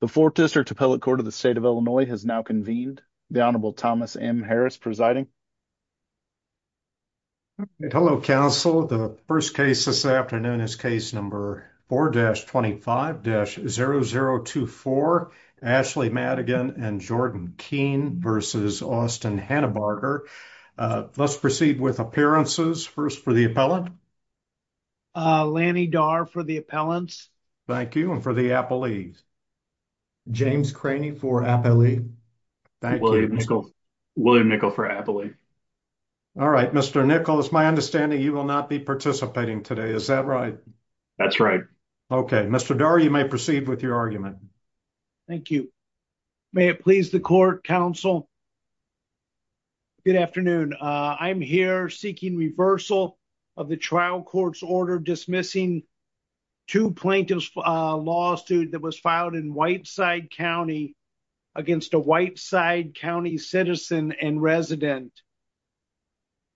the fourth district appellate court of the state of illinois has now convened the honorable thomas m harris presiding hello counsel the first case this afternoon is case number 4-25-0024 ashley madigan and jordan keen versus austin hannabarger uh let's proceed with appearances first for the appellant uh lanny dar for the appellants thank you for the appellees james craney for appellee thank you william nickel for appellee all right mr nickel it's my understanding you will not be participating today is that right that's right okay mr dar you may proceed with your argument thank you may it please the court counsel good afternoon uh i'm here seeking reversal of the trial court's order dismissing two plaintiffs lawsuit that was filed in whiteside county against a whiteside county citizen and resident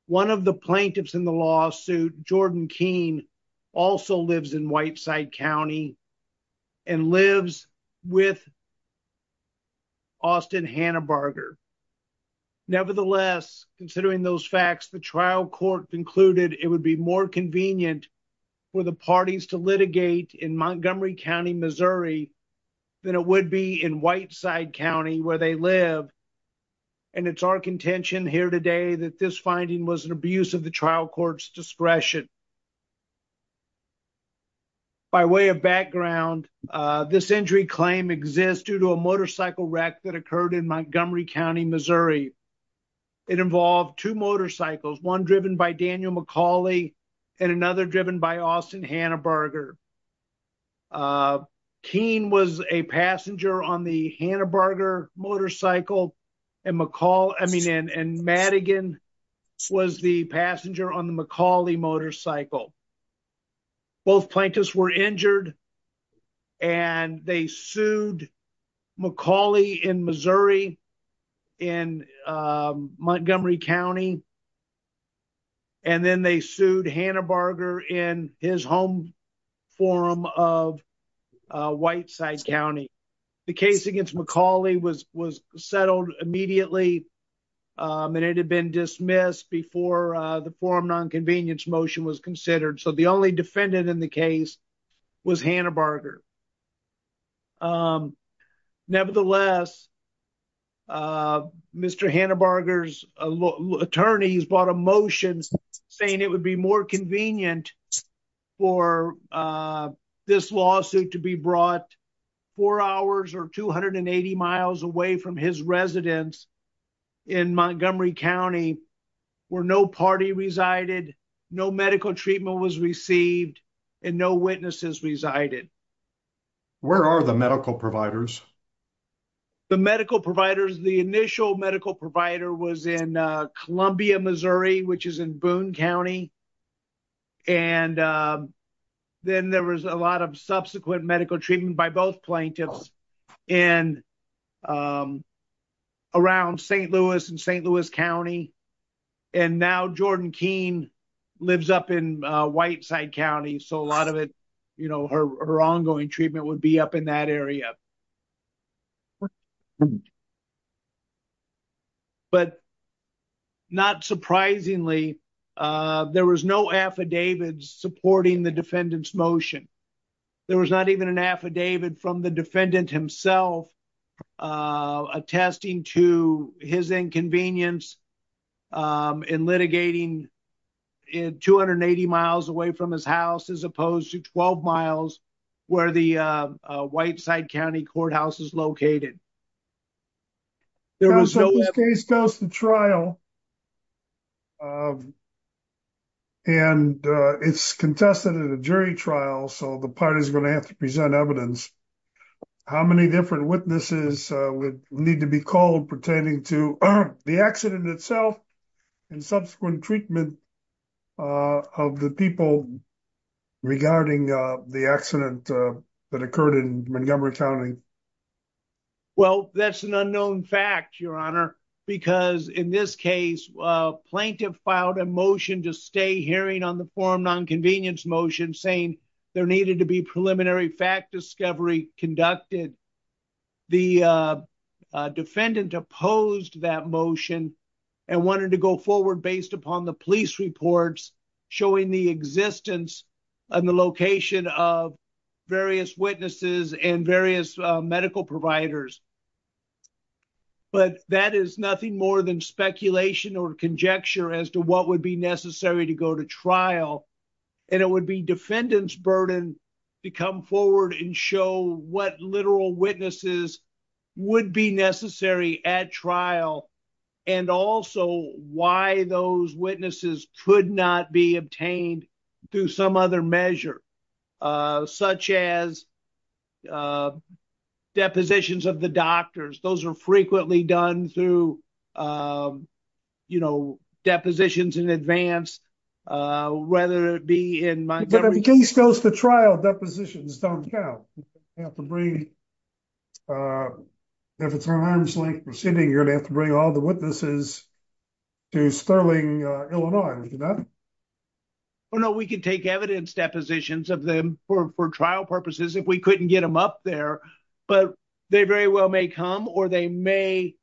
one of the plaintiffs in the lawsuit jordan keen also lives in whiteside county and lives with austin hannabarger nevertheless considering those facts the trial court concluded it would be more convenient for the parties to litigate in montgomery county missouri than it would be in whiteside county where they live and it's our contention here today that this finding was an abuse of the trial court's discretion by way of background this injury claim exists due to a motorcycle wreck that occurred in montgomery county missouri it involved two motorcycles one driven by daniel mccauley and another driven by austin hannabarger keen was a passenger on the hannabarger motorcycle and mccall i mean and madigan was the passenger on the mccauley motorcycle both plaintiffs were injured and they sued mccauley in missouri in montgomery county and then they sued hannabarger in his home forum of whiteside county the case against mccauley was was settled immediately and it had been dismissed before the forum non-convenience motion was considered so the only defendant in the case was hannabarger nevertheless uh mr hannabarger's attorneys brought a motion saying it would be more convenient for uh this lawsuit to be brought four hours or 280 miles away from his residence in montgomery county where no party resided no medical treatment was received and no witnesses resided where are the medical providers the medical providers the initial medical provider was in columbia missouri which is in boone county and then there was a lot of subsequent medical treatment by both plaintiffs and around st louis and st louis county and now jordan keen lives up in whiteside county so a lot of it you know her ongoing treatment would be up in that area but not surprisingly uh there was no affidavits supporting the defendant's motion there was not even an affidavit from the defendant himself uh attesting to his inconvenience um in litigating in 280 miles away from his house as opposed to 12 miles where the uh whiteside county courthouse is located there was no case goes to trial and uh it's contested at a jury trial so the party's going to have to present evidence how many different witnesses uh would need to be called pertaining to the accident itself and subsequent treatment uh of the people regarding uh the accident uh that occurred in montgomery county well that's an unknown fact your honor because in this case a plaintiff filed a motion to stay hearing on the forum non-convenience motion saying there needed to be preliminary fact discovery conducted the uh defendant opposed that motion and wanted to go forward based upon the police reports showing the existence and the location of various witnesses and various medical providers but that is nothing more than speculation or conjecture as to what would be necessary to go to trial and it would be defendant's burden to come forward and show what literal witnesses would be necessary at trial and also why those witnesses could not be obtained through some other measure uh such as uh depositions of the doctors those are frequently done through um you know depositions in advance uh whether it be in my case goes to trial depositions don't count you have to bring uh if it's an arm's length proceeding you're gonna have to bring all the witnesses to sterling illinois well no we can take evidence depositions of them for for trial purposes if we couldn't get them up there but they very well may come or they may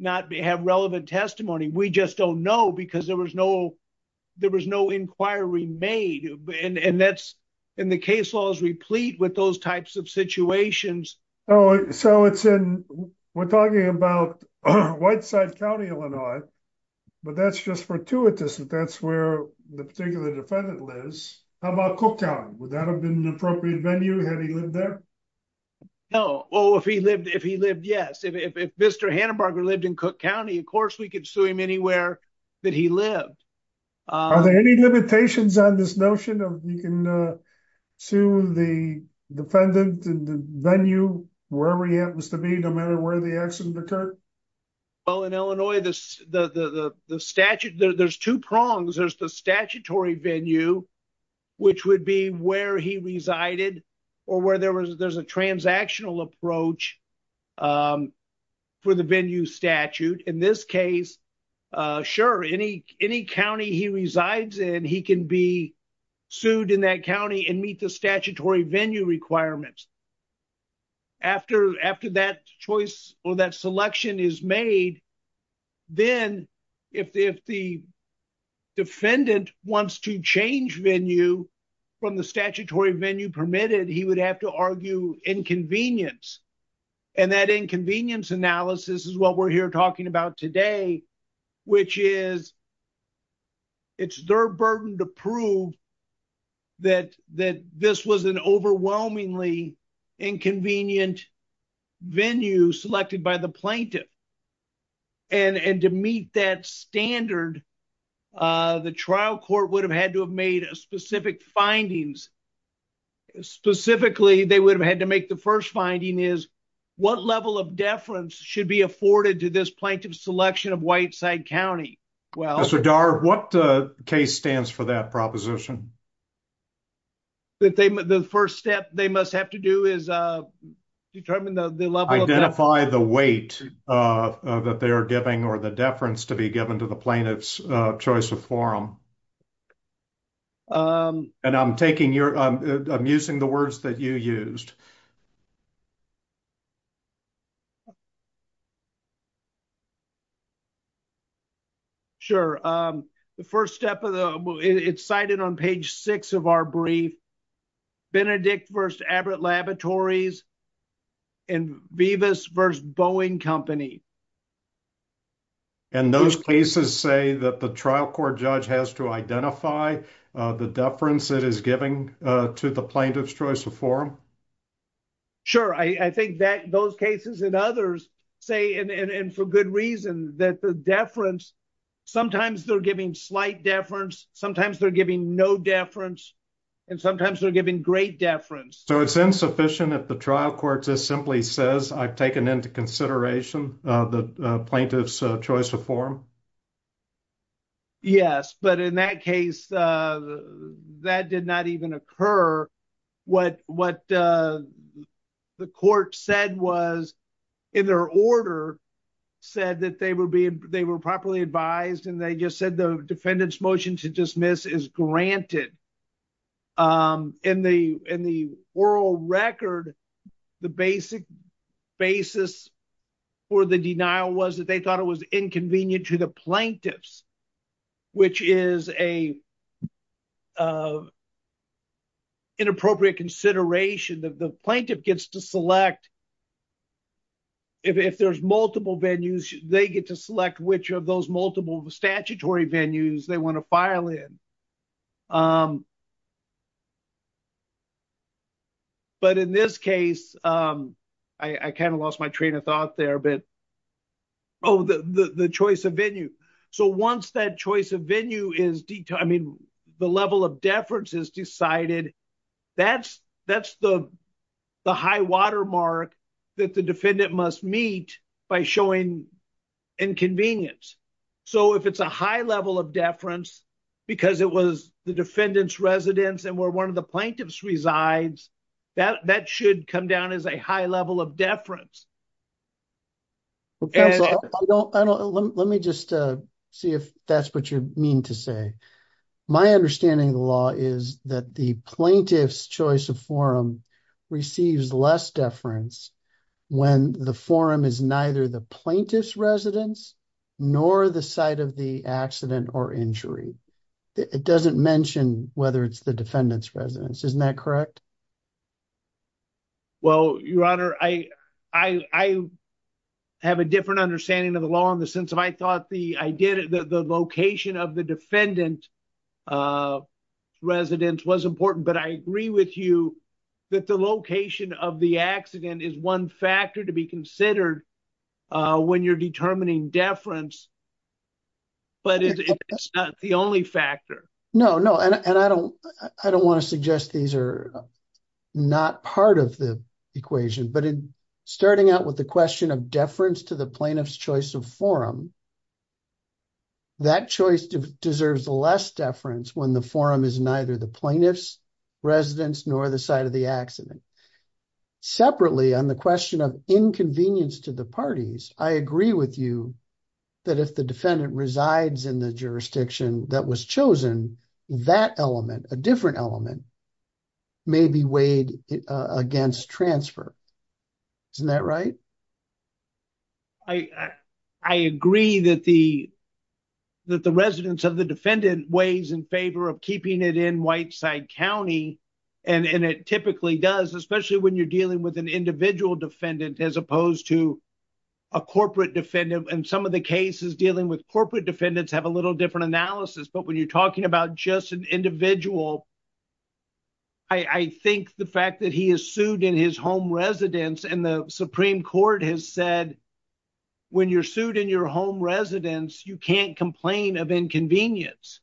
not have relevant testimony we just don't know because there was no there was no inquiry made and and that's and the case law is replete with those types of situations oh so it's in we're talking about whiteside county illinois but that's just fortuitous that that's where the particular defendant lives how about cooktown would that have been an appropriate venue had he lived there no well if he lived if he lived yes if if mr hannenberger lived in cook county of course we could sue him anywhere that he lived are there any limitations on this notion of you can uh sue the defendant and the venue wherever he happens to be no matter where the accident occurred well in illinois this the the the statute there's two prongs there's the statutory venue which would be where he resided or where there was there's a transactional approach um for the venue statute in this case uh sure any any county he resides in he can be sued in that county and meet the statutory venue requirements after after that choice or that selection is made then if if the defendant wants to change venue from the statutory venue permitted he would have to argue inconvenience and that inconvenience analysis is what we're here talking about today which is it's their burden to prove that that this was an overwhelmingly inconvenient venue selected by the plaintiff and and to meet that standard uh the trial court would have had to have made specific findings specifically they would have had to make the first finding is what level of deference should be afforded to this plaintiff's selection of white side county well so dar what uh case stands for that proposition that they the first step they must have to do is uh determine the level identify the weight uh that they are giving or the deference to be given to the plaintiff's uh choice of forum um and i'm taking your i'm using the words that you used sure um the first step of the it's cited on page six of our brief benedict versus aberrant laboratories and vivis versus bowing company and those cases say that the trial court judge has to identify uh the deference it is giving uh to the plaintiff's choice of forum sure i i think that those cases and others say and and for good reason that the deference sometimes they're giving slight deference sometimes they're giving no deference and sometimes they're giving great deference so it's insufficient if the trial court just simply says i've taken into consideration uh the plaintiff's choice to form yes but in that case uh that did not even occur what what uh the court said was in their order said that they would be they were properly advised and they just said the defendant's motion to dismiss is granted um in the in the oral record the basic basis for the denial was that they thought it was inconvenient to the plaintiffs which is a uh inappropriate consideration that the plaintiff gets to select if there's multiple venues they get to select which of those multiple statutory venues they want to file in um but in this case um i i kind of lost my train of thought there but oh the the the choice of venue so once that choice of venue is detail i mean the level of deference is decided that's that's the the high water mark that the defendant must meet by showing inconvenience so if it's a high level of deference because it was the defendant's residence and where one of the plaintiffs resides that that should come down as a high level of deference let me just uh see if that's what you mean to say my understanding of the law is that the plaintiff's choice of forum receives less deference when the forum is neither the plaintiff's residence nor the site of the accident or injury it doesn't mention whether it's the defendant's residence isn't that correct well your honor i i i have a different understanding of the law in the sense of i did the the location of the defendant uh residence was important but i agree with you that the location of the accident is one factor to be considered uh when you're determining deference but it's not the only factor no no and i don't i don't want to suggest these are not part of the equation but in starting out with the question of deference to the plaintiff's forum that choice deserves less deference when the forum is neither the plaintiff's residence nor the site of the accident separately on the question of inconvenience to the parties i agree with you that if the defendant resides in the jurisdiction that was chosen that element a different element may be weighed against transfer isn't that right i i agree that the that the residence of the defendant weighs in favor of keeping it in white side county and and it typically does especially when you're dealing with an individual defendant as opposed to a corporate defendant and some of the cases dealing with corporate defendants have a little different analysis but when you're talking about just an individual i i think the fact that he is sued in his home residence and the supreme court has said when you're sued in your home residence you can't complain of inconvenience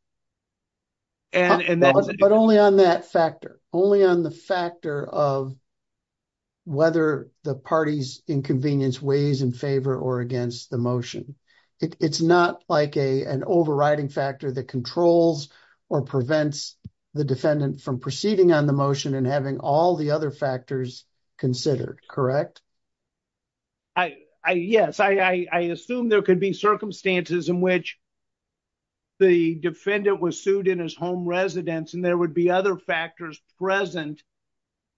and and that's but only on that factor only on the factor of whether the party's inconvenience weighs in favor or against the motion it's not like a an overriding factor that controls or prevents the defendant from proceeding on the motion and having all the other factors considered correct i i yes i i i assume there could be circumstances in which the defendant was sued in his home residence and there would be other factors present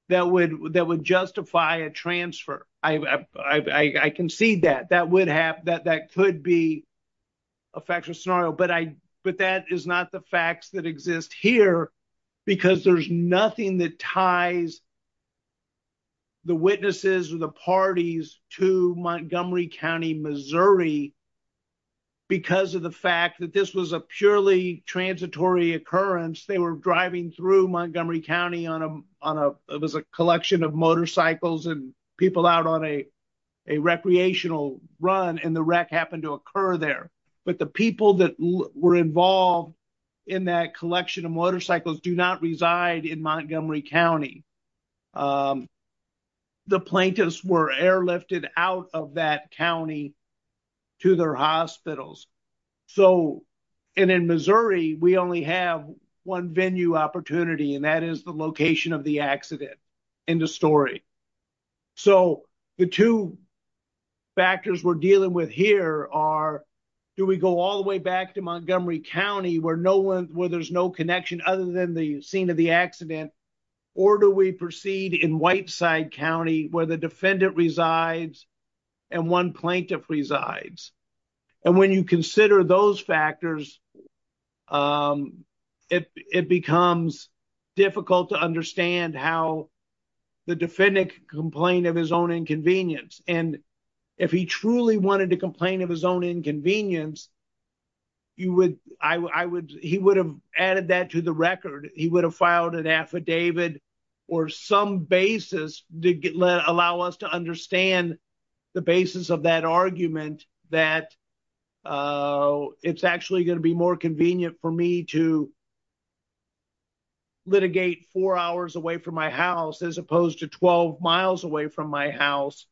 that would that would justify a transfer i i i concede that that would have that that could be a factual scenario but i but that is not the facts that exist here because there's nothing that ties the witnesses or the parties to montgomery county missouri because of the fact that this was a purely transitory occurrence they were driving through montgomery county on a on a it was a collection of motorcycles and people out on a a recreational run and the wreck happened to occur there but the people that were involved in that collection of motorcycles do not reside in montgomery county the plaintiffs were airlifted out of that county to their hospitals so and in missouri we only have one venue opportunity and that is the location of the accident in the story so the two factors we're dealing with here are do we go all the way back to montgomery county where no one where there's no connection other than the scene of the accident or do we proceed in whiteside county where the defendant resides and one plaintiff resides and when you consider those factors um it it becomes difficult to understand how the defendant complained of his own inconvenience and if he truly wanted to complain of his own inconvenience you would i would he would have added that to the record he would have filed an affidavit or some basis to allow us to understand the basis of that argument that uh it's actually going to be more convenient for me to litigate four hours away from my house as opposed to 12 miles away from my house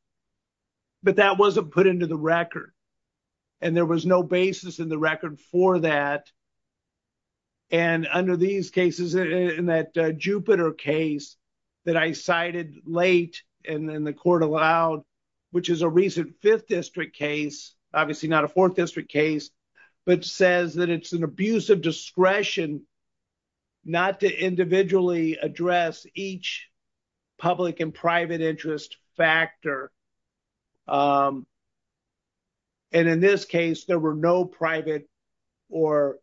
but that wasn't put into the record and there was no basis in the record for that and under these cases in that jupiter case that i cited late and then the court allowed which is a recent fifth district case obviously not a fourth district case but says that it's an abuse of discretion not to individually address each public and private interest factor and in this case there were no private or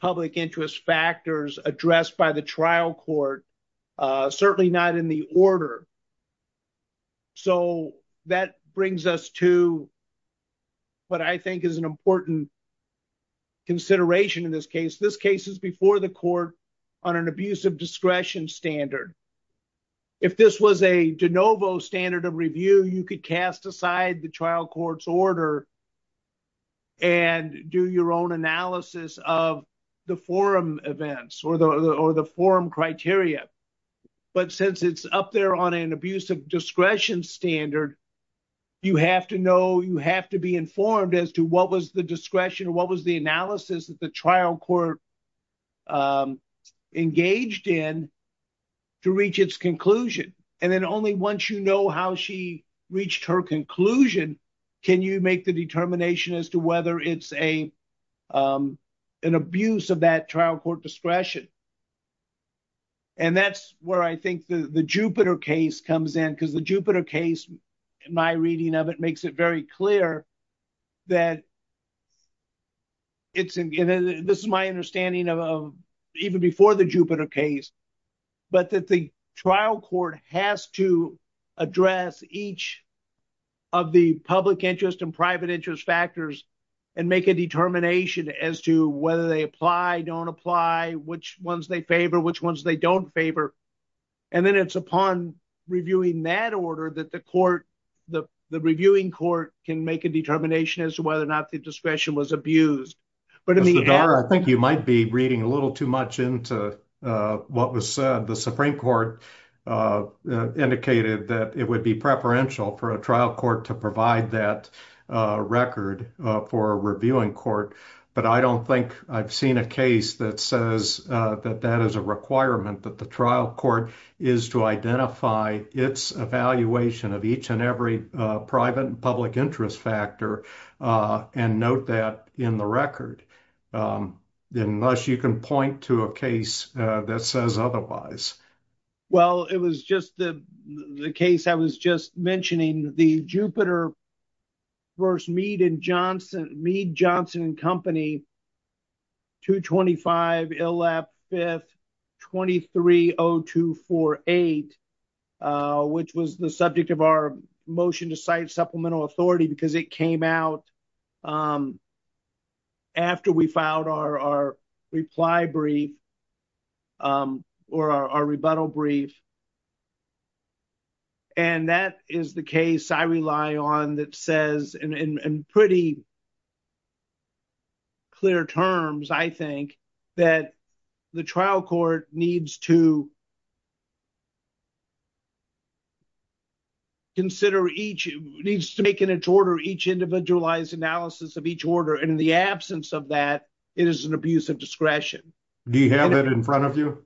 public interest factors addressed by the trial court certainly not in the order so that brings us to what i think is an important consideration in this case this case is before the court on an abuse of discretion standard if this was a de novo standard of review you could cast aside the trial court's order and do your own analysis of the forum events or the or the forum criteria but since it's up there on an abuse of discretion standard you have to know you have to be informed as to what was the discretion what was the analysis that the trial court engaged in to reach its conclusion and then only once you know how she reached her conclusion can you make the determination as to whether it's a um an abuse of that trial court discretion and that's where i think the the jupiter case comes in because the jupiter case my reading of it makes it very clear that it's in this is my understanding of even before the jupiter case but that the trial court has to address each of the public interest and factors and make a determination as to whether they apply don't apply which ones they favor which ones they don't favor and then it's upon reviewing that order that the court the the reviewing court can make a determination as to whether or not the discretion was abused but i mean i think you might be reading a little too much into uh what was said the supreme court uh indicated that it would be preferential for a trial court to provide that uh record uh for a reviewing court but i don't think i've seen a case that says uh that that is a requirement that the trial court is to identify its evaluation of each and every uh private and public interest factor uh and note that in the record um unless you can point to a case that says otherwise well it was just the the case i was just mentioning the jupiter first mead and johnson mead johnson and company 225 ill lap 5th 230248 uh which was the subject of our motion to cite supplemental authority because it came out um after we filed our our reply brief um or our rebuttal brief and that is the case i rely on that says in in pretty clear terms i think that the trial court needs to uh consider each needs to make an each order each individualized analysis of each order and in the absence of that it is an abuse of discretion do you have it in front of you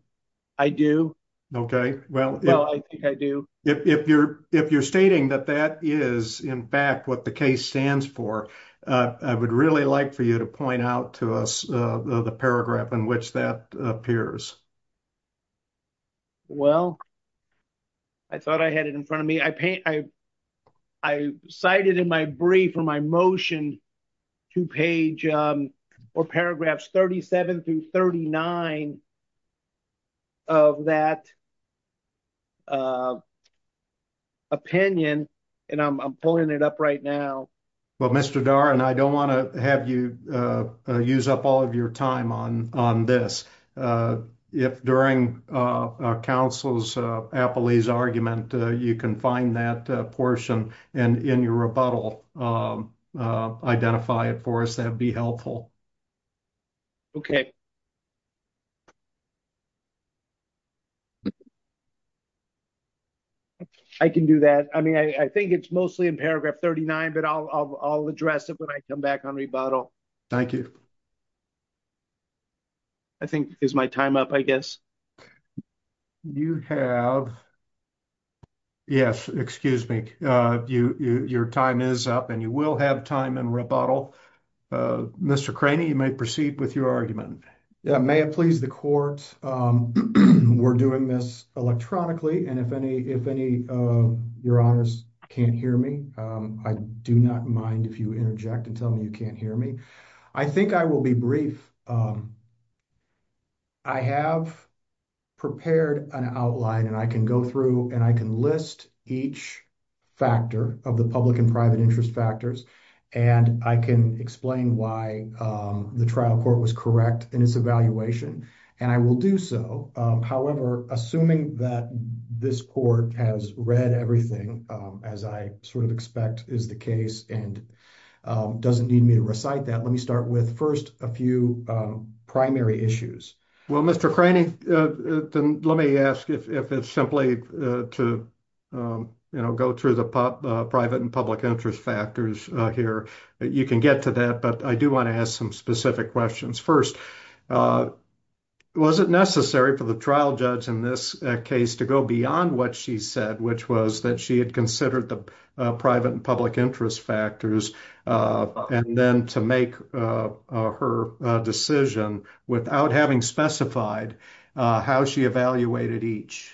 i do okay well well i think i do if you're if you're stating that that is in fact what the case stands for uh i would really like for you to point out to us uh the paragraph in which that appears well i thought i had it in front of me i paint i i cited in my brief for my motion two page um or paragraphs 37 through 39 of that opinion and i'm pulling it up right now well mr dar and i don't want to have you uh use up all of your time on on this uh if during uh council's appellee's argument you can find that portion and in your rebuttal um uh identify it for us that'd be helpful okay i can do that i mean i i think it's mostly in paragraph 39 but i'll i'll address it when i come back on rebuttal thank you i think is my time up i guess you have yes excuse me uh you your time is up and you will have time in rebuttal uh mr craney you may proceed with your argument yeah may it please the court um we're doing this electronically and if any if any uh your honors can't hear me um i do not mind if you interject and tell me you can't hear me i think i will be brief um i have prepared an outline and i can go through and i can list each factor of the public and private interest factors and i can explain why um the trial court was correct in its evaluation and i will do so however assuming that this court has read everything um as i sort of expect is the case and um doesn't need me to recite that let me start with first a few um primary issues well mr craney uh then let me ask if if it's simply to um you know go through the pop uh private and public interest factors uh here you can get to that but i do want to ask some specific questions first uh was it necessary for the trial judge in this case to go beyond what she said which was that she had considered the uh private and public interest factors uh and then to make uh her decision without having specified uh how she evaluated each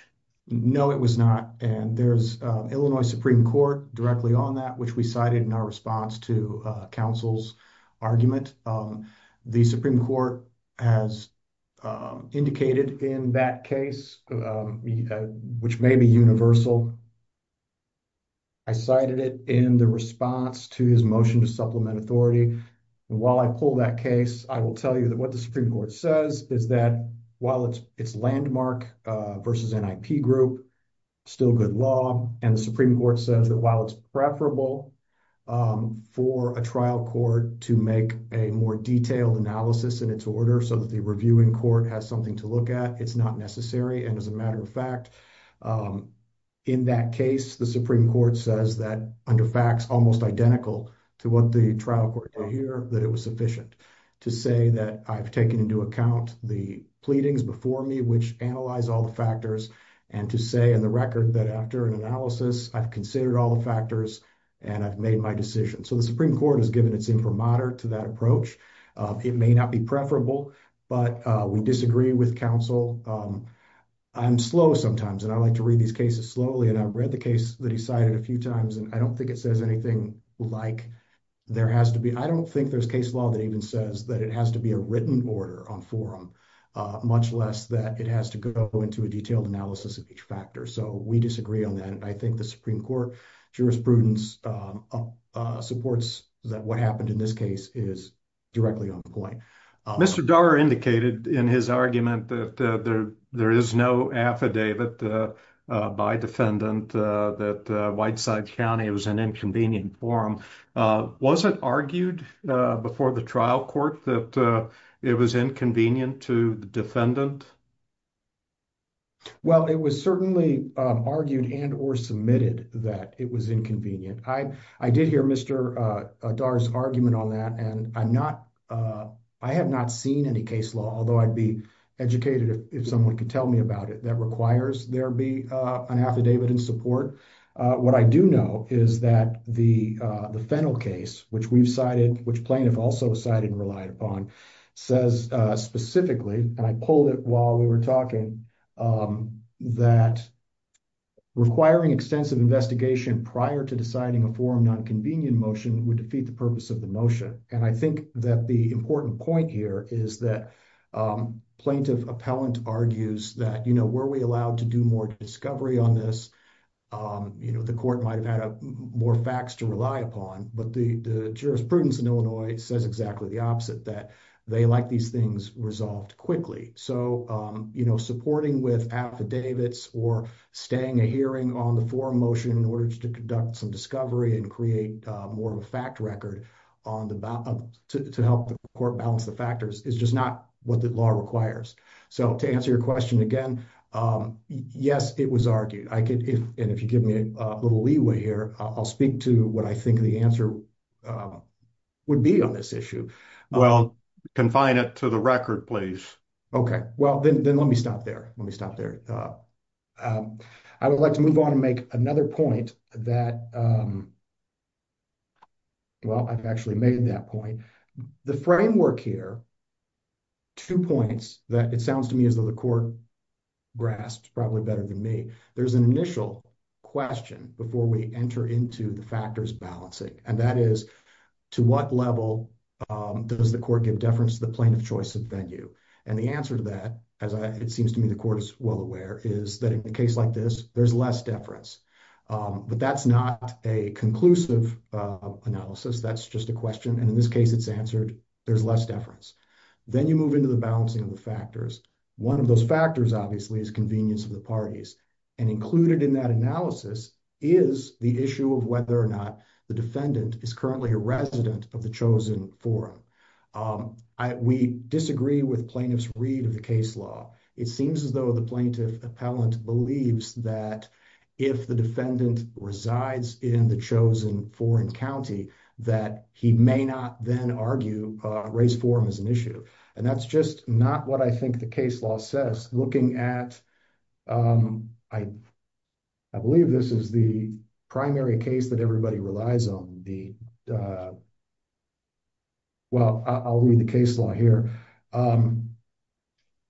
no it was not and there's uh illinois supreme court directly on that which we cited in our response to uh counsel's argument um the supreme court has indicated in that case which may be universal i cited it in the response to his motion to supplement authority and while i pull that case i will tell you that what the supreme court says is that while it's it's landmark uh versus nip group still good law and the supreme court says that while it's preferable um for a trial court to make a more detailed analysis in its order so that the reviewing court has something to look at it's not necessary and as a matter of fact in that case the supreme court says that under facts almost identical to what the trial court did here that it was sufficient to say that i've taken into account the pleadings before me which analyze all the factors and to say in the record that after an analysis i've considered all the factors and i've made my decision so the supreme court has given its imprimatur to that approach it may not be preferable but uh we disagree with counsel um i'm slow sometimes and i like to read these cases slowly and i've read the case that he cited a few times and i don't think it says anything like there has to be i don't think there's case law that even says that it has to be a written order on forum uh much less that it has to go into a detailed analysis of each factor so we disagree on that i think the supreme court jurisprudence supports that what happened in this case is directly on the point mr darr indicated in his argument that there there is no affidavit uh by defendant uh that uh whiteside county it was an inconvenient forum was it argued uh before the trial court that it was inconvenient to the defendant well it was certainly argued and or submitted that it was inconvenient i i did hear mr uh darr's argument on that and i'm not uh i have not seen any case law although i'd be educated if someone could tell me about it that requires there be uh an affidavit in support uh what i do know is that the uh the fennel case which we've cited which plaintiff also cited and relied upon says uh specifically and i pulled it while we were talking um that requiring extensive investigation prior to deciding a forum non-convenient motion would defeat the purpose of the motion and i think that the important point here is that um plaintiff appellant argues that you know were we allowed to do more discovery on this um you know the court might have had more facts to rely upon but the the jurisprudence in illinois says exactly the opposite that they like these things resolved quickly so um you know supporting with affidavits or staying a hearing on the forum motion in order to conduct some discovery and create more of a fact record on the to help the court balance the factors is just not what the law requires so to answer your question again um yes it was argued i could if and if you give me a little leeway here i'll speak to what i think the answer would be on this issue well confine it to the record please okay well then let me stop there let me stop there uh um i would like to move on and make another point that um well i've actually made that point the framework here two points that it sounds to me as though the court grasps probably better than me there's an initial question before we enter into the factors balancing and that is to what level um does the court give deference to the plaintiff choice of venue and the answer to that as i it seems to me the court is well aware is that in a case like this there's less deference um but that's not a conclusive uh analysis that's just a question and in this case it's answered there's less deference then you move into the balancing of the factors one of those factors obviously is convenience of the parties and included in that analysis is the issue of whether or not the defendant is currently a resident of the chosen forum um i we disagree with plaintiff's read of the case law it seems as though the plaintiff appellant believes that if the defendant resides in the chosen foreign county that he may not then argue uh race forum is an issue and that's just not what i think the case law says looking at um i i believe this is the primary case that everybody relies on the uh well i'll read the case law here um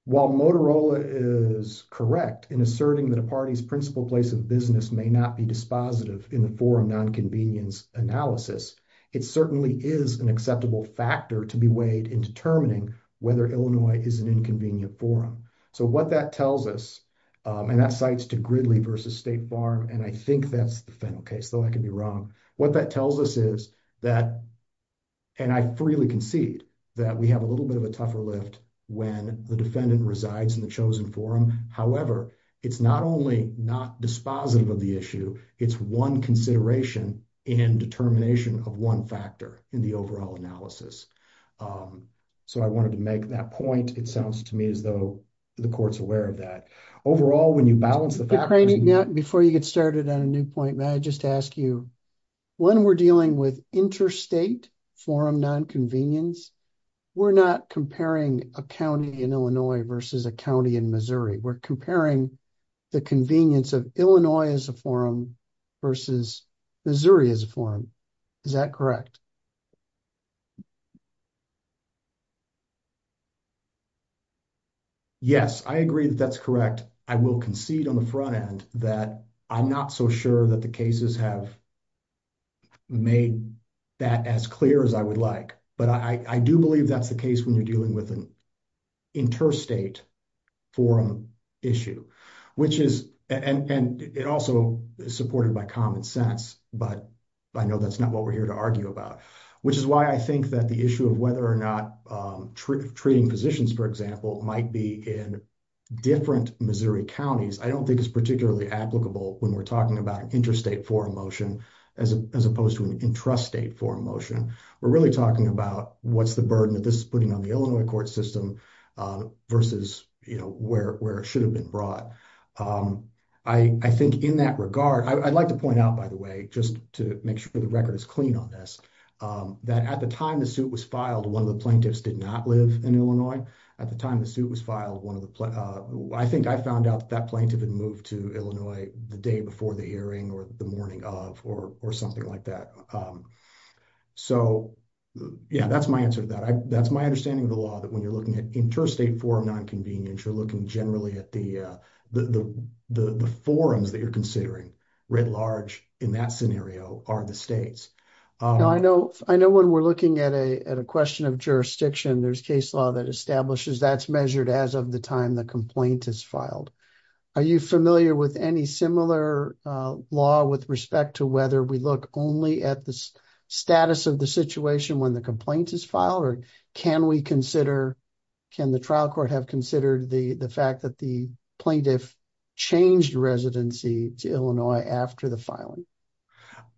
while motorola is correct in asserting that a party's principal place of business may not be dispositive in the forum non-convenience analysis it certainly is an acceptable factor to be weighed in determining whether illinois is an inconvenient forum so what that tells us and that cites to gridley versus state farm and i think that's the final case though i could be wrong what that tells us is that and i freely concede that we have a little bit of a tougher lift when the defendant resides in the chosen forum however it's not only not dispositive of the issue it's one consideration in determination of one factor in the overall analysis um so i wanted to make that point it sounds to me as though the court's aware of that overall when you balance the fact before you get started on a new point may i just ask you when we're dealing with interstate forum non-convenience we're not comparing a county in illinois versus a county in missouri we're comparing the convenience of illinois as a forum versus missouri as a forum is that correct yes i agree that that's correct i will concede on the front end that i'm not so sure that the cases have made that as clear as i would like but i i do believe that's the case when you're dealing with an interstate forum issue which is and and it also is supported by common sense but i know that's not what we're here to argue about which is why i think that the issue of whether or not um treating positions for example might be in different missouri counties i don't think it's particularly applicable when we're talking about an interstate forum motion as opposed to an intrastate forum motion we're really talking about what's the burden that this is putting on the illinois court system versus you know where where it should have been brought um i i think in that regard i'd like to point out by the way just to make sure the record is clean on um that at the time the suit was filed one of the plaintiffs did not live in illinois at the time the suit was filed one of the uh i think i found out that plaintiff had moved to illinois the day before the hearing or the morning of or or something like that um so yeah that's my answer to that that's my understanding of the law that when you're looking at interstate forum non-convenience you're looking generally at the uh the the the forums that you're considering writ large in that scenario are the states i know i know when we're looking at a at a question of jurisdiction there's case law that establishes that's measured as of the time the complaint is filed are you familiar with any similar uh law with respect to whether we look only at the status of the situation when the complaint is filed or can we consider can the trial court have considered the the fact that the plaintiff changed residency to illinois after the filing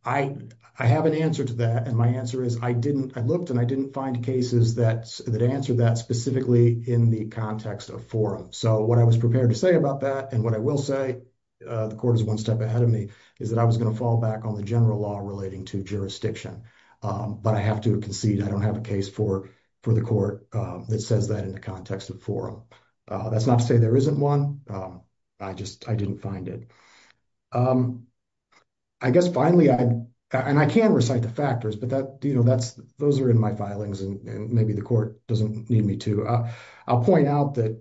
i i have an answer to that and my answer is i didn't i looked and i didn't find cases that that answered that specifically in the context of forum so what i was prepared to say about that and what i will say uh the court is one step ahead of me is that i was going to fall back on the general law relating to jurisdiction um but i have to concede i don't have a case for for the court um that says that in the context of forum uh that's not to say there isn't one um i just i didn't find it um i guess finally i and i can recite the factors but that you know that's those are in my filings and maybe the court doesn't need me to i'll point out that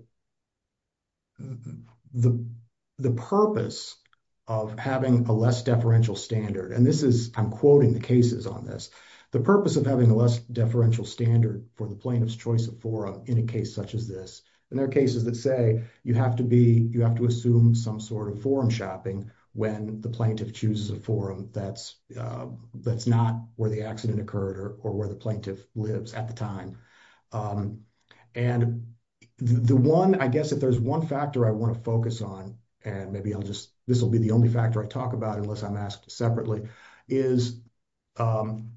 the the purpose of having a less deferential standard and this is i'm quoting the cases on this the purpose of having a less deferential standard for the plaintiff's choice of forum in a case such as this and there are cases that say you have to be you have to assume some sort of forum shopping when the plaintiff chooses a forum that's uh that's not where the accident occurred or where the plaintiff lives at the time um and the one i guess if there's one factor i want to focus on and maybe i'll just this will be the only factor i talk about unless i'm asked separately is um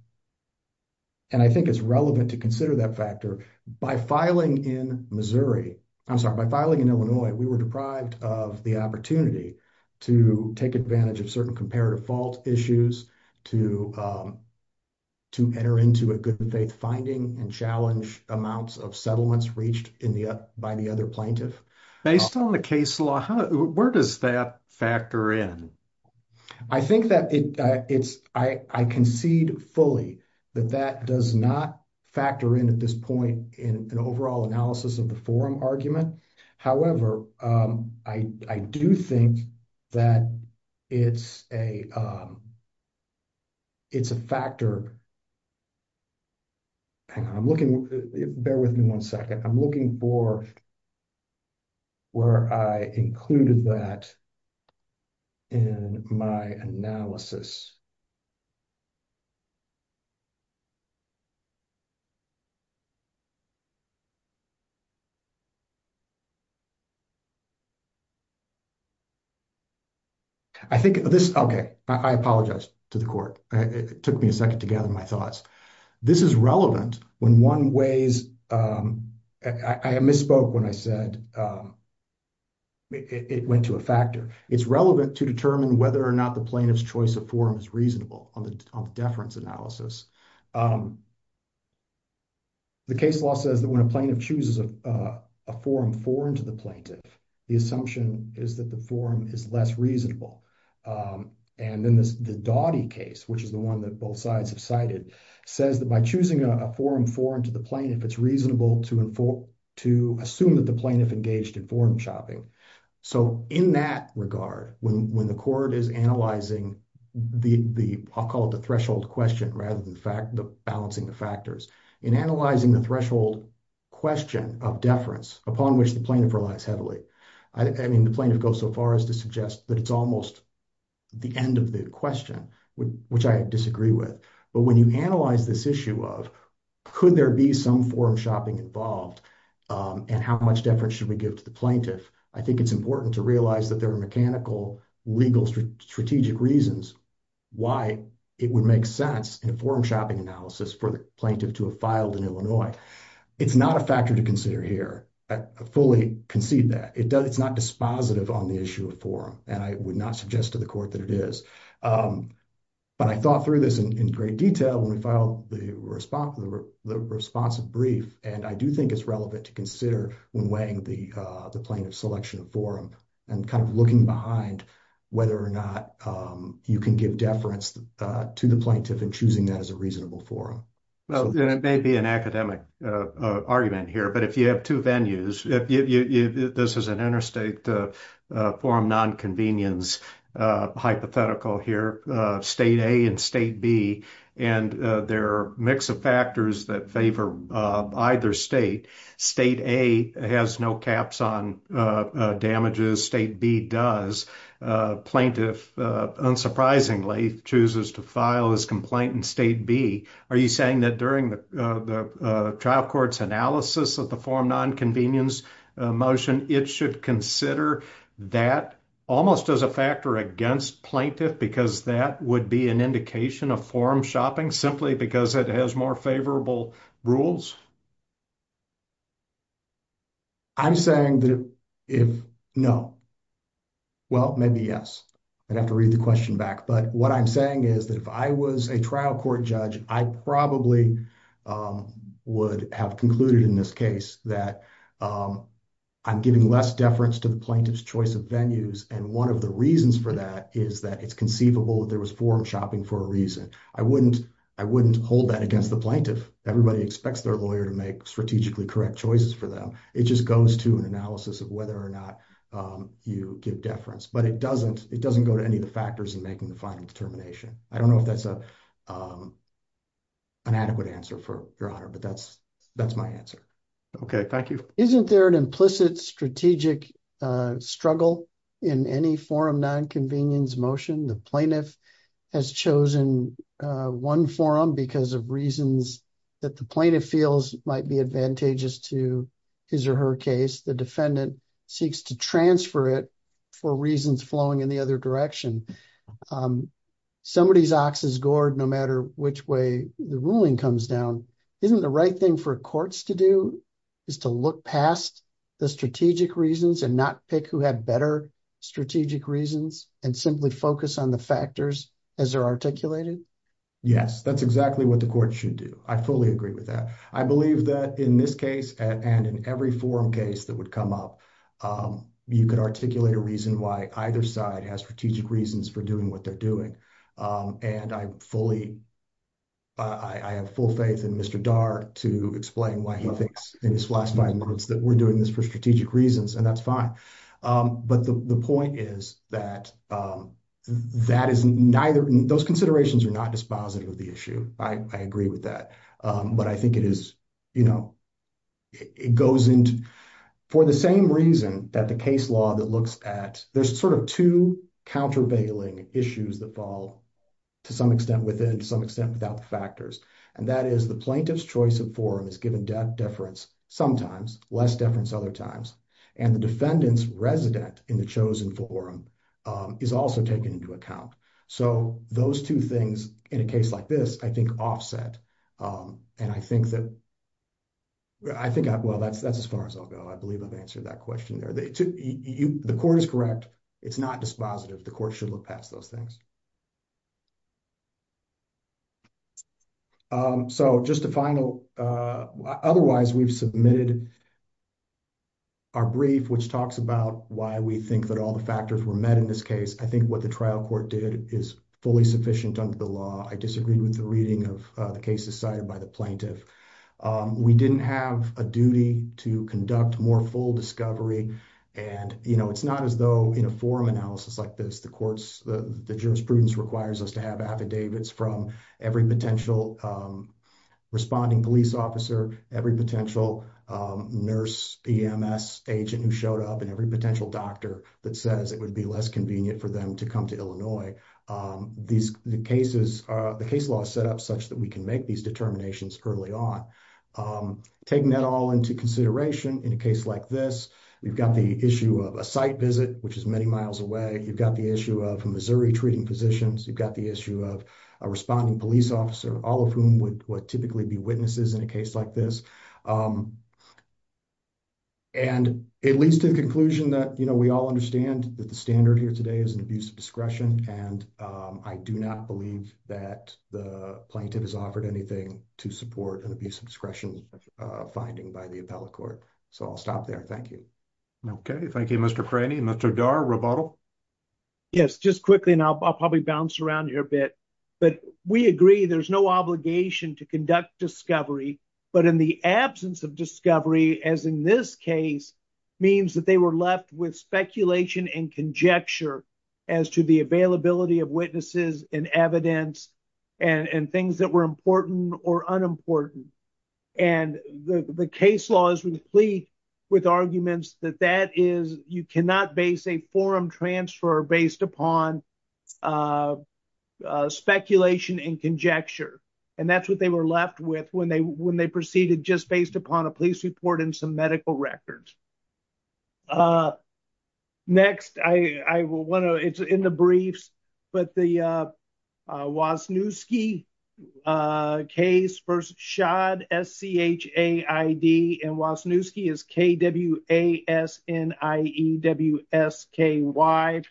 and i think it's relevant to consider that factor by filing in missouri i'm sorry by filing in illinois we were deprived of the opportunity to take advantage of certain comparative fault issues to um to enter into a good faith finding and challenge amounts of settlements reached in the by the other plaintiff based on the case law where does that factor in i think that it uh it's i i concede fully that that does not factor in at this point in an overall analysis of the forum argument however um i i do think that it's a um it's a factor hang on i'm looking bear with me one second i'm looking for where i included that in my analysis i think this okay i apologize to the court it took me a second to gather my thoughts this is relevant when one weighs um i i misspoke when i said um it went to a factor it's relevant to determine whether or not the plaintiff's choice of forum is reasonable on the on the deference analysis um the case law says that when a plaintiff chooses a forum foreign to the plaintiff the assumption is that the forum is less reasonable um and then this the dawdy case which is the one that both sides have cited says that by choosing a forum forum to the plaintiff it's reasonable to inform to assume that the plaintiff engaged in forum shopping so in that regard when when the court is analyzing the the i'll call it the threshold question rather than the fact the balancing the factors in analyzing the threshold question of deference upon which the plaintiff relies heavily i mean the plaintiff goes so far as to suggest that it's almost the end of the question which i disagree with but when you analyze this issue of could there be some forum shopping involved um and how much deference should we give to the plaintiff i think it's important to realize that there are mechanical legal strategic reasons why it would make sense in a forum shopping analysis for the plaintiff to have filed in illinois it's not a factor to consider here i fully concede that it does it's not dispositive on the issue of forum and i would not suggest to the court that it is um but i thought through this in great detail when we filed the response the responsive brief and i do think it's relevant to consider when weighing the uh the plaintiff selection of forum and kind of looking behind whether or not um you can give deference uh to the plaintiff and choosing that as a reasonable forum well it may be an academic uh argument here but if you have two venues if you this is an interstate uh forum non-convenience uh hypothetical here uh state a and state b and there are a mix of factors that favor either state state a has no caps on uh damages state b does plaintiff unsurprisingly chooses to file his complaint in state b are you saying that during the the trial court's analysis of the forum non-convenience motion it should consider that almost as a factor against plaintiff because that would be an indication of forum shopping simply because it has more favorable rules i'm saying that if no well maybe yes i'd have to read the question back but what i'm saying is that if i was a trial court judge i probably um would have concluded in this case that um i'm giving less deference to the plaintiff's choice of venues and one of the reasons for that is that it's conceivable there was forum shopping for a reason i wouldn't i wouldn't hold that against the plaintiff everybody expects their lawyer to make strategically correct choices for them it just goes to an analysis of whether or not um you give deference but it doesn't it doesn't go to any of the factors in the final determination i don't know if that's a um inadequate answer for your honor but that's that's my answer okay thank you isn't there an implicit strategic uh struggle in any forum non-convenience motion the plaintiff has chosen uh one forum because of reasons that the plaintiff feels might be advantageous to his or her case the defendant seeks to transfer it for reasons flowing in the other direction somebody's ox is gored no matter which way the ruling comes down isn't the right thing for courts to do is to look past the strategic reasons and not pick who had better strategic reasons and simply focus on the factors as they're articulated yes that's exactly what the court should do i fully agree with that i believe that in this case and in every forum case that would come up um you could articulate a reason why either side has strategic reasons for doing what they're doing um and i fully i i have full faith in mr dark to explain why he thinks in his last five months that we're doing this for strategic reasons and that's fine um but the the point is that um that is neither those considerations are not dispositive of the issue i i agree with that um but i think it is you know it goes into for the same reason that the case law that looks at there's sort of two countervailing issues that fall to some extent within to some extent without the factors and that is the plaintiff's choice of forum is given death deference sometimes less deference other times and the defendant's resident in the chosen forum um is also taken into account so those two things in a case like this i think offset um and i think that i think well that's that's as far as i'll go i believe i've answered that question there the the court is correct it's not dispositive the court should look past those things um so just a final uh otherwise we've submitted our brief which talks about why we think that all the factors were met in this case i think what the trial court did is fully sufficient under the law i disagreed with the reading of the cases cited by the plaintiff we didn't have a duty to conduct more full discovery and you know it's not as though in a forum analysis like this the courts the the jurisprudence requires us to have affidavits from every potential um responding police officer every potential um nurse ems agent who showed up and every potential doctor that says it would be less convenient for them to come to illinois um these the cases uh the case law is set up such that we can make these determinations early on um taking that all into consideration in a case like this we've got the issue of a site visit which is many miles away you've got the issue of missouri treating physicians you've got the issue of a responding police officer all of whom would typically be witnesses in a case like this um and it leads to the conclusion that you know we all understand that the here today is an abuse of discretion and um i do not believe that the plaintiff has offered anything to support an abuse of discretion uh finding by the appellate court so i'll stop there thank you okay thank you mr cranny mr dar rebuttal yes just quickly and i'll probably bounce around here a bit but we agree there's no obligation to conduct discovery but in the absence of discovery as in this case means that they were left with speculation and conjecture as to the availability of witnesses and evidence and and things that were important or unimportant and the the case law is complete with arguments that that is you cannot base a forum transfer based upon uh speculation and conjecture and that's what they were left with when they when they proceeded just based upon a report and some medical records uh next i i will want to it's in the briefs but the uh uh was new ski uh case first shod s-c-h-a-i-d and was new ski is k-w-a-s-n-i-e-w-s-k-y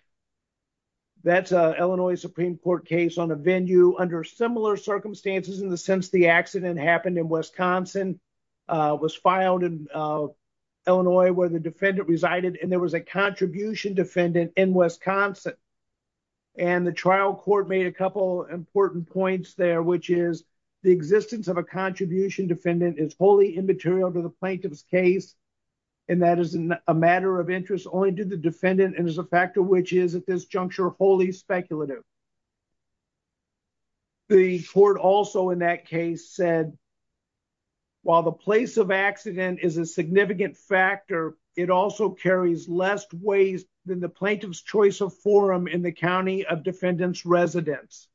that's a illinois supreme court case on a venue under similar circumstances in since the accident happened in wisconsin uh was filed in illinois where the defendant resided and there was a contribution defendant in wisconsin and the trial court made a couple important points there which is the existence of a contribution defendant is wholly immaterial to the plaintiff's case and that is a matter of interest only to the defendant and as a factor which is at this juncture wholly speculative the court also in that case said while the place of accident is a significant factor it also carries less waste than the plaintiff's choice of forum in the county of defendant's residence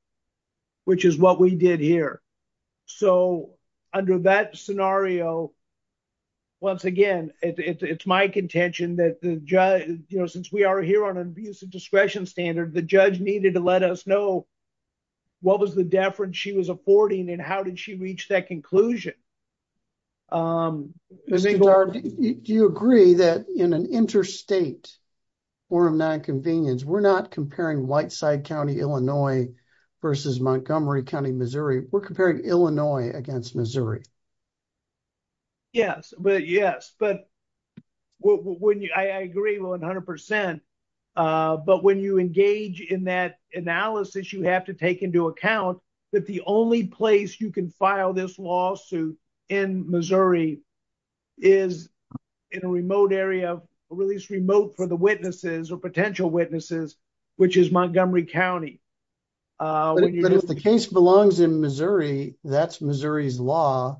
which is what we did here so under that scenario once again it's my contention that the judge you know since we are here on an abusive discretion standard the judge needed to let us know what was the deference she was affording and how did she reach that conclusion um do you agree that in an interstate forum non-convenience we're not comparing white side county illinois versus montgomery county missouri we're comparing illinois against missouri yes but yes but well when you i agree 100 percent uh but when you engage in that analysis you have to take into account that the only place you can file this lawsuit in missouri is in a remote area or at least remote for the witnesses or potential witnesses which is montgomery county uh but if the case belongs in missouri that's missouri's law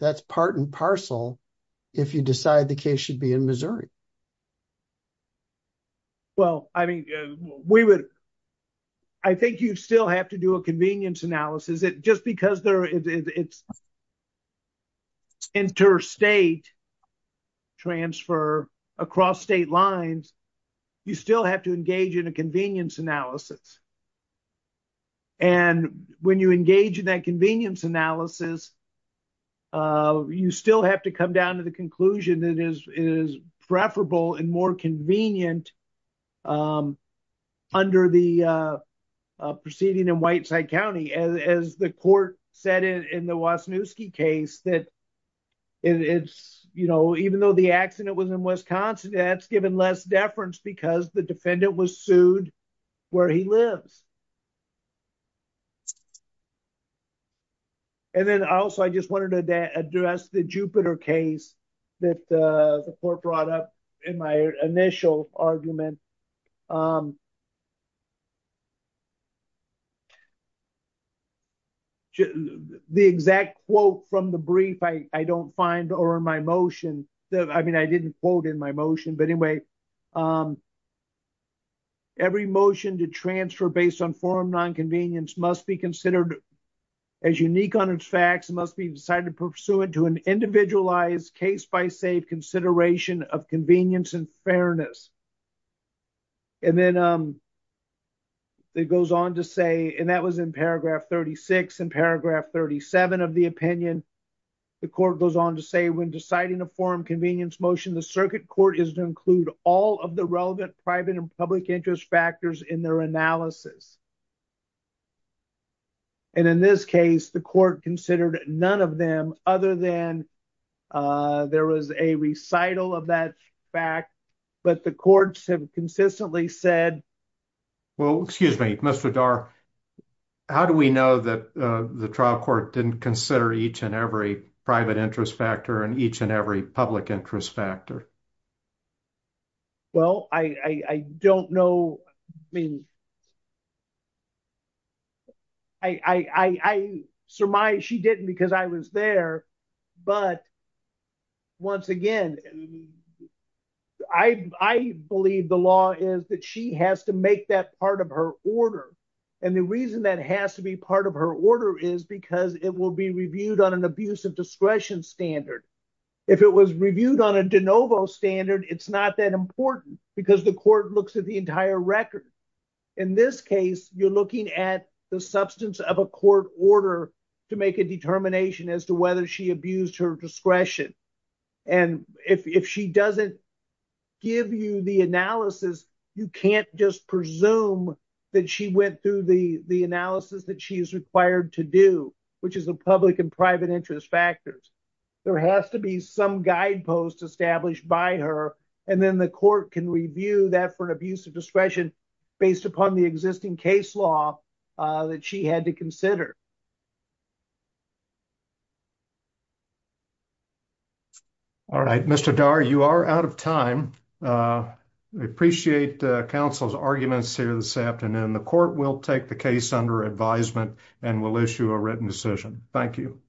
that's part and parcel if you decide the case should be in missouri well i mean we would i think you still have to do a convenience analysis it just because there is it's interstate transfer across state lines you still have to engage in a convenience analysis and when you engage in that convenience analysis uh you still have to come down to the conclusion that is is preferable and more convenient under the uh proceeding in white side county as the court said in the wasnusky case that it's you know even though the accident was in wisconsin that's given less deference because the defendant was sued where he lives and then also i just wanted to address the jupiter case that uh the court brought up in my initial argument um the exact quote from the brief i i don't find or in my motion that i mean i didn't quote in my motion but anyway um every motion to transfer based on forum non-convenience must be considered as unique on its facts must be decided to pursue it to an individualized case by safe consideration of convenience and fairness and then um it goes on to say and that was in paragraph 36 and paragraph 37 of the opinion the court goes on to say when deciding a forum convenience motion the circuit court is to include all of the relevant private and public interest factors in their analysis and in this case the court considered none of them other than uh there was a recital of that fact but the courts have consistently said well excuse me mr dar how do we know that the trial court didn't consider each and every private interest factor and each and every public interest factor well i i don't know i mean i i i surmise she didn't because i was there but once again i i believe the law is that she has to make that part of her order and the reason that has to be part of her order is because it will be reviewed on an abuse of discretion standard if it was reviewed on a de novo standard it's not that important because the court looks at the entire record in this case you're looking at the substance of a court order to make a determination as to whether she abused her discretion and if if she doesn't give you the analysis you can't just presume that she went through the the analysis that she is required to do which is a public and private interest factors there has to be some guidepost established by her and then the court can review that for an abuse of discretion based upon the existing case law that she had to consider all right mr dar you are out of time uh i appreciate council's arguments here this afternoon the court will take the case under advisement and will issue a written decision thank you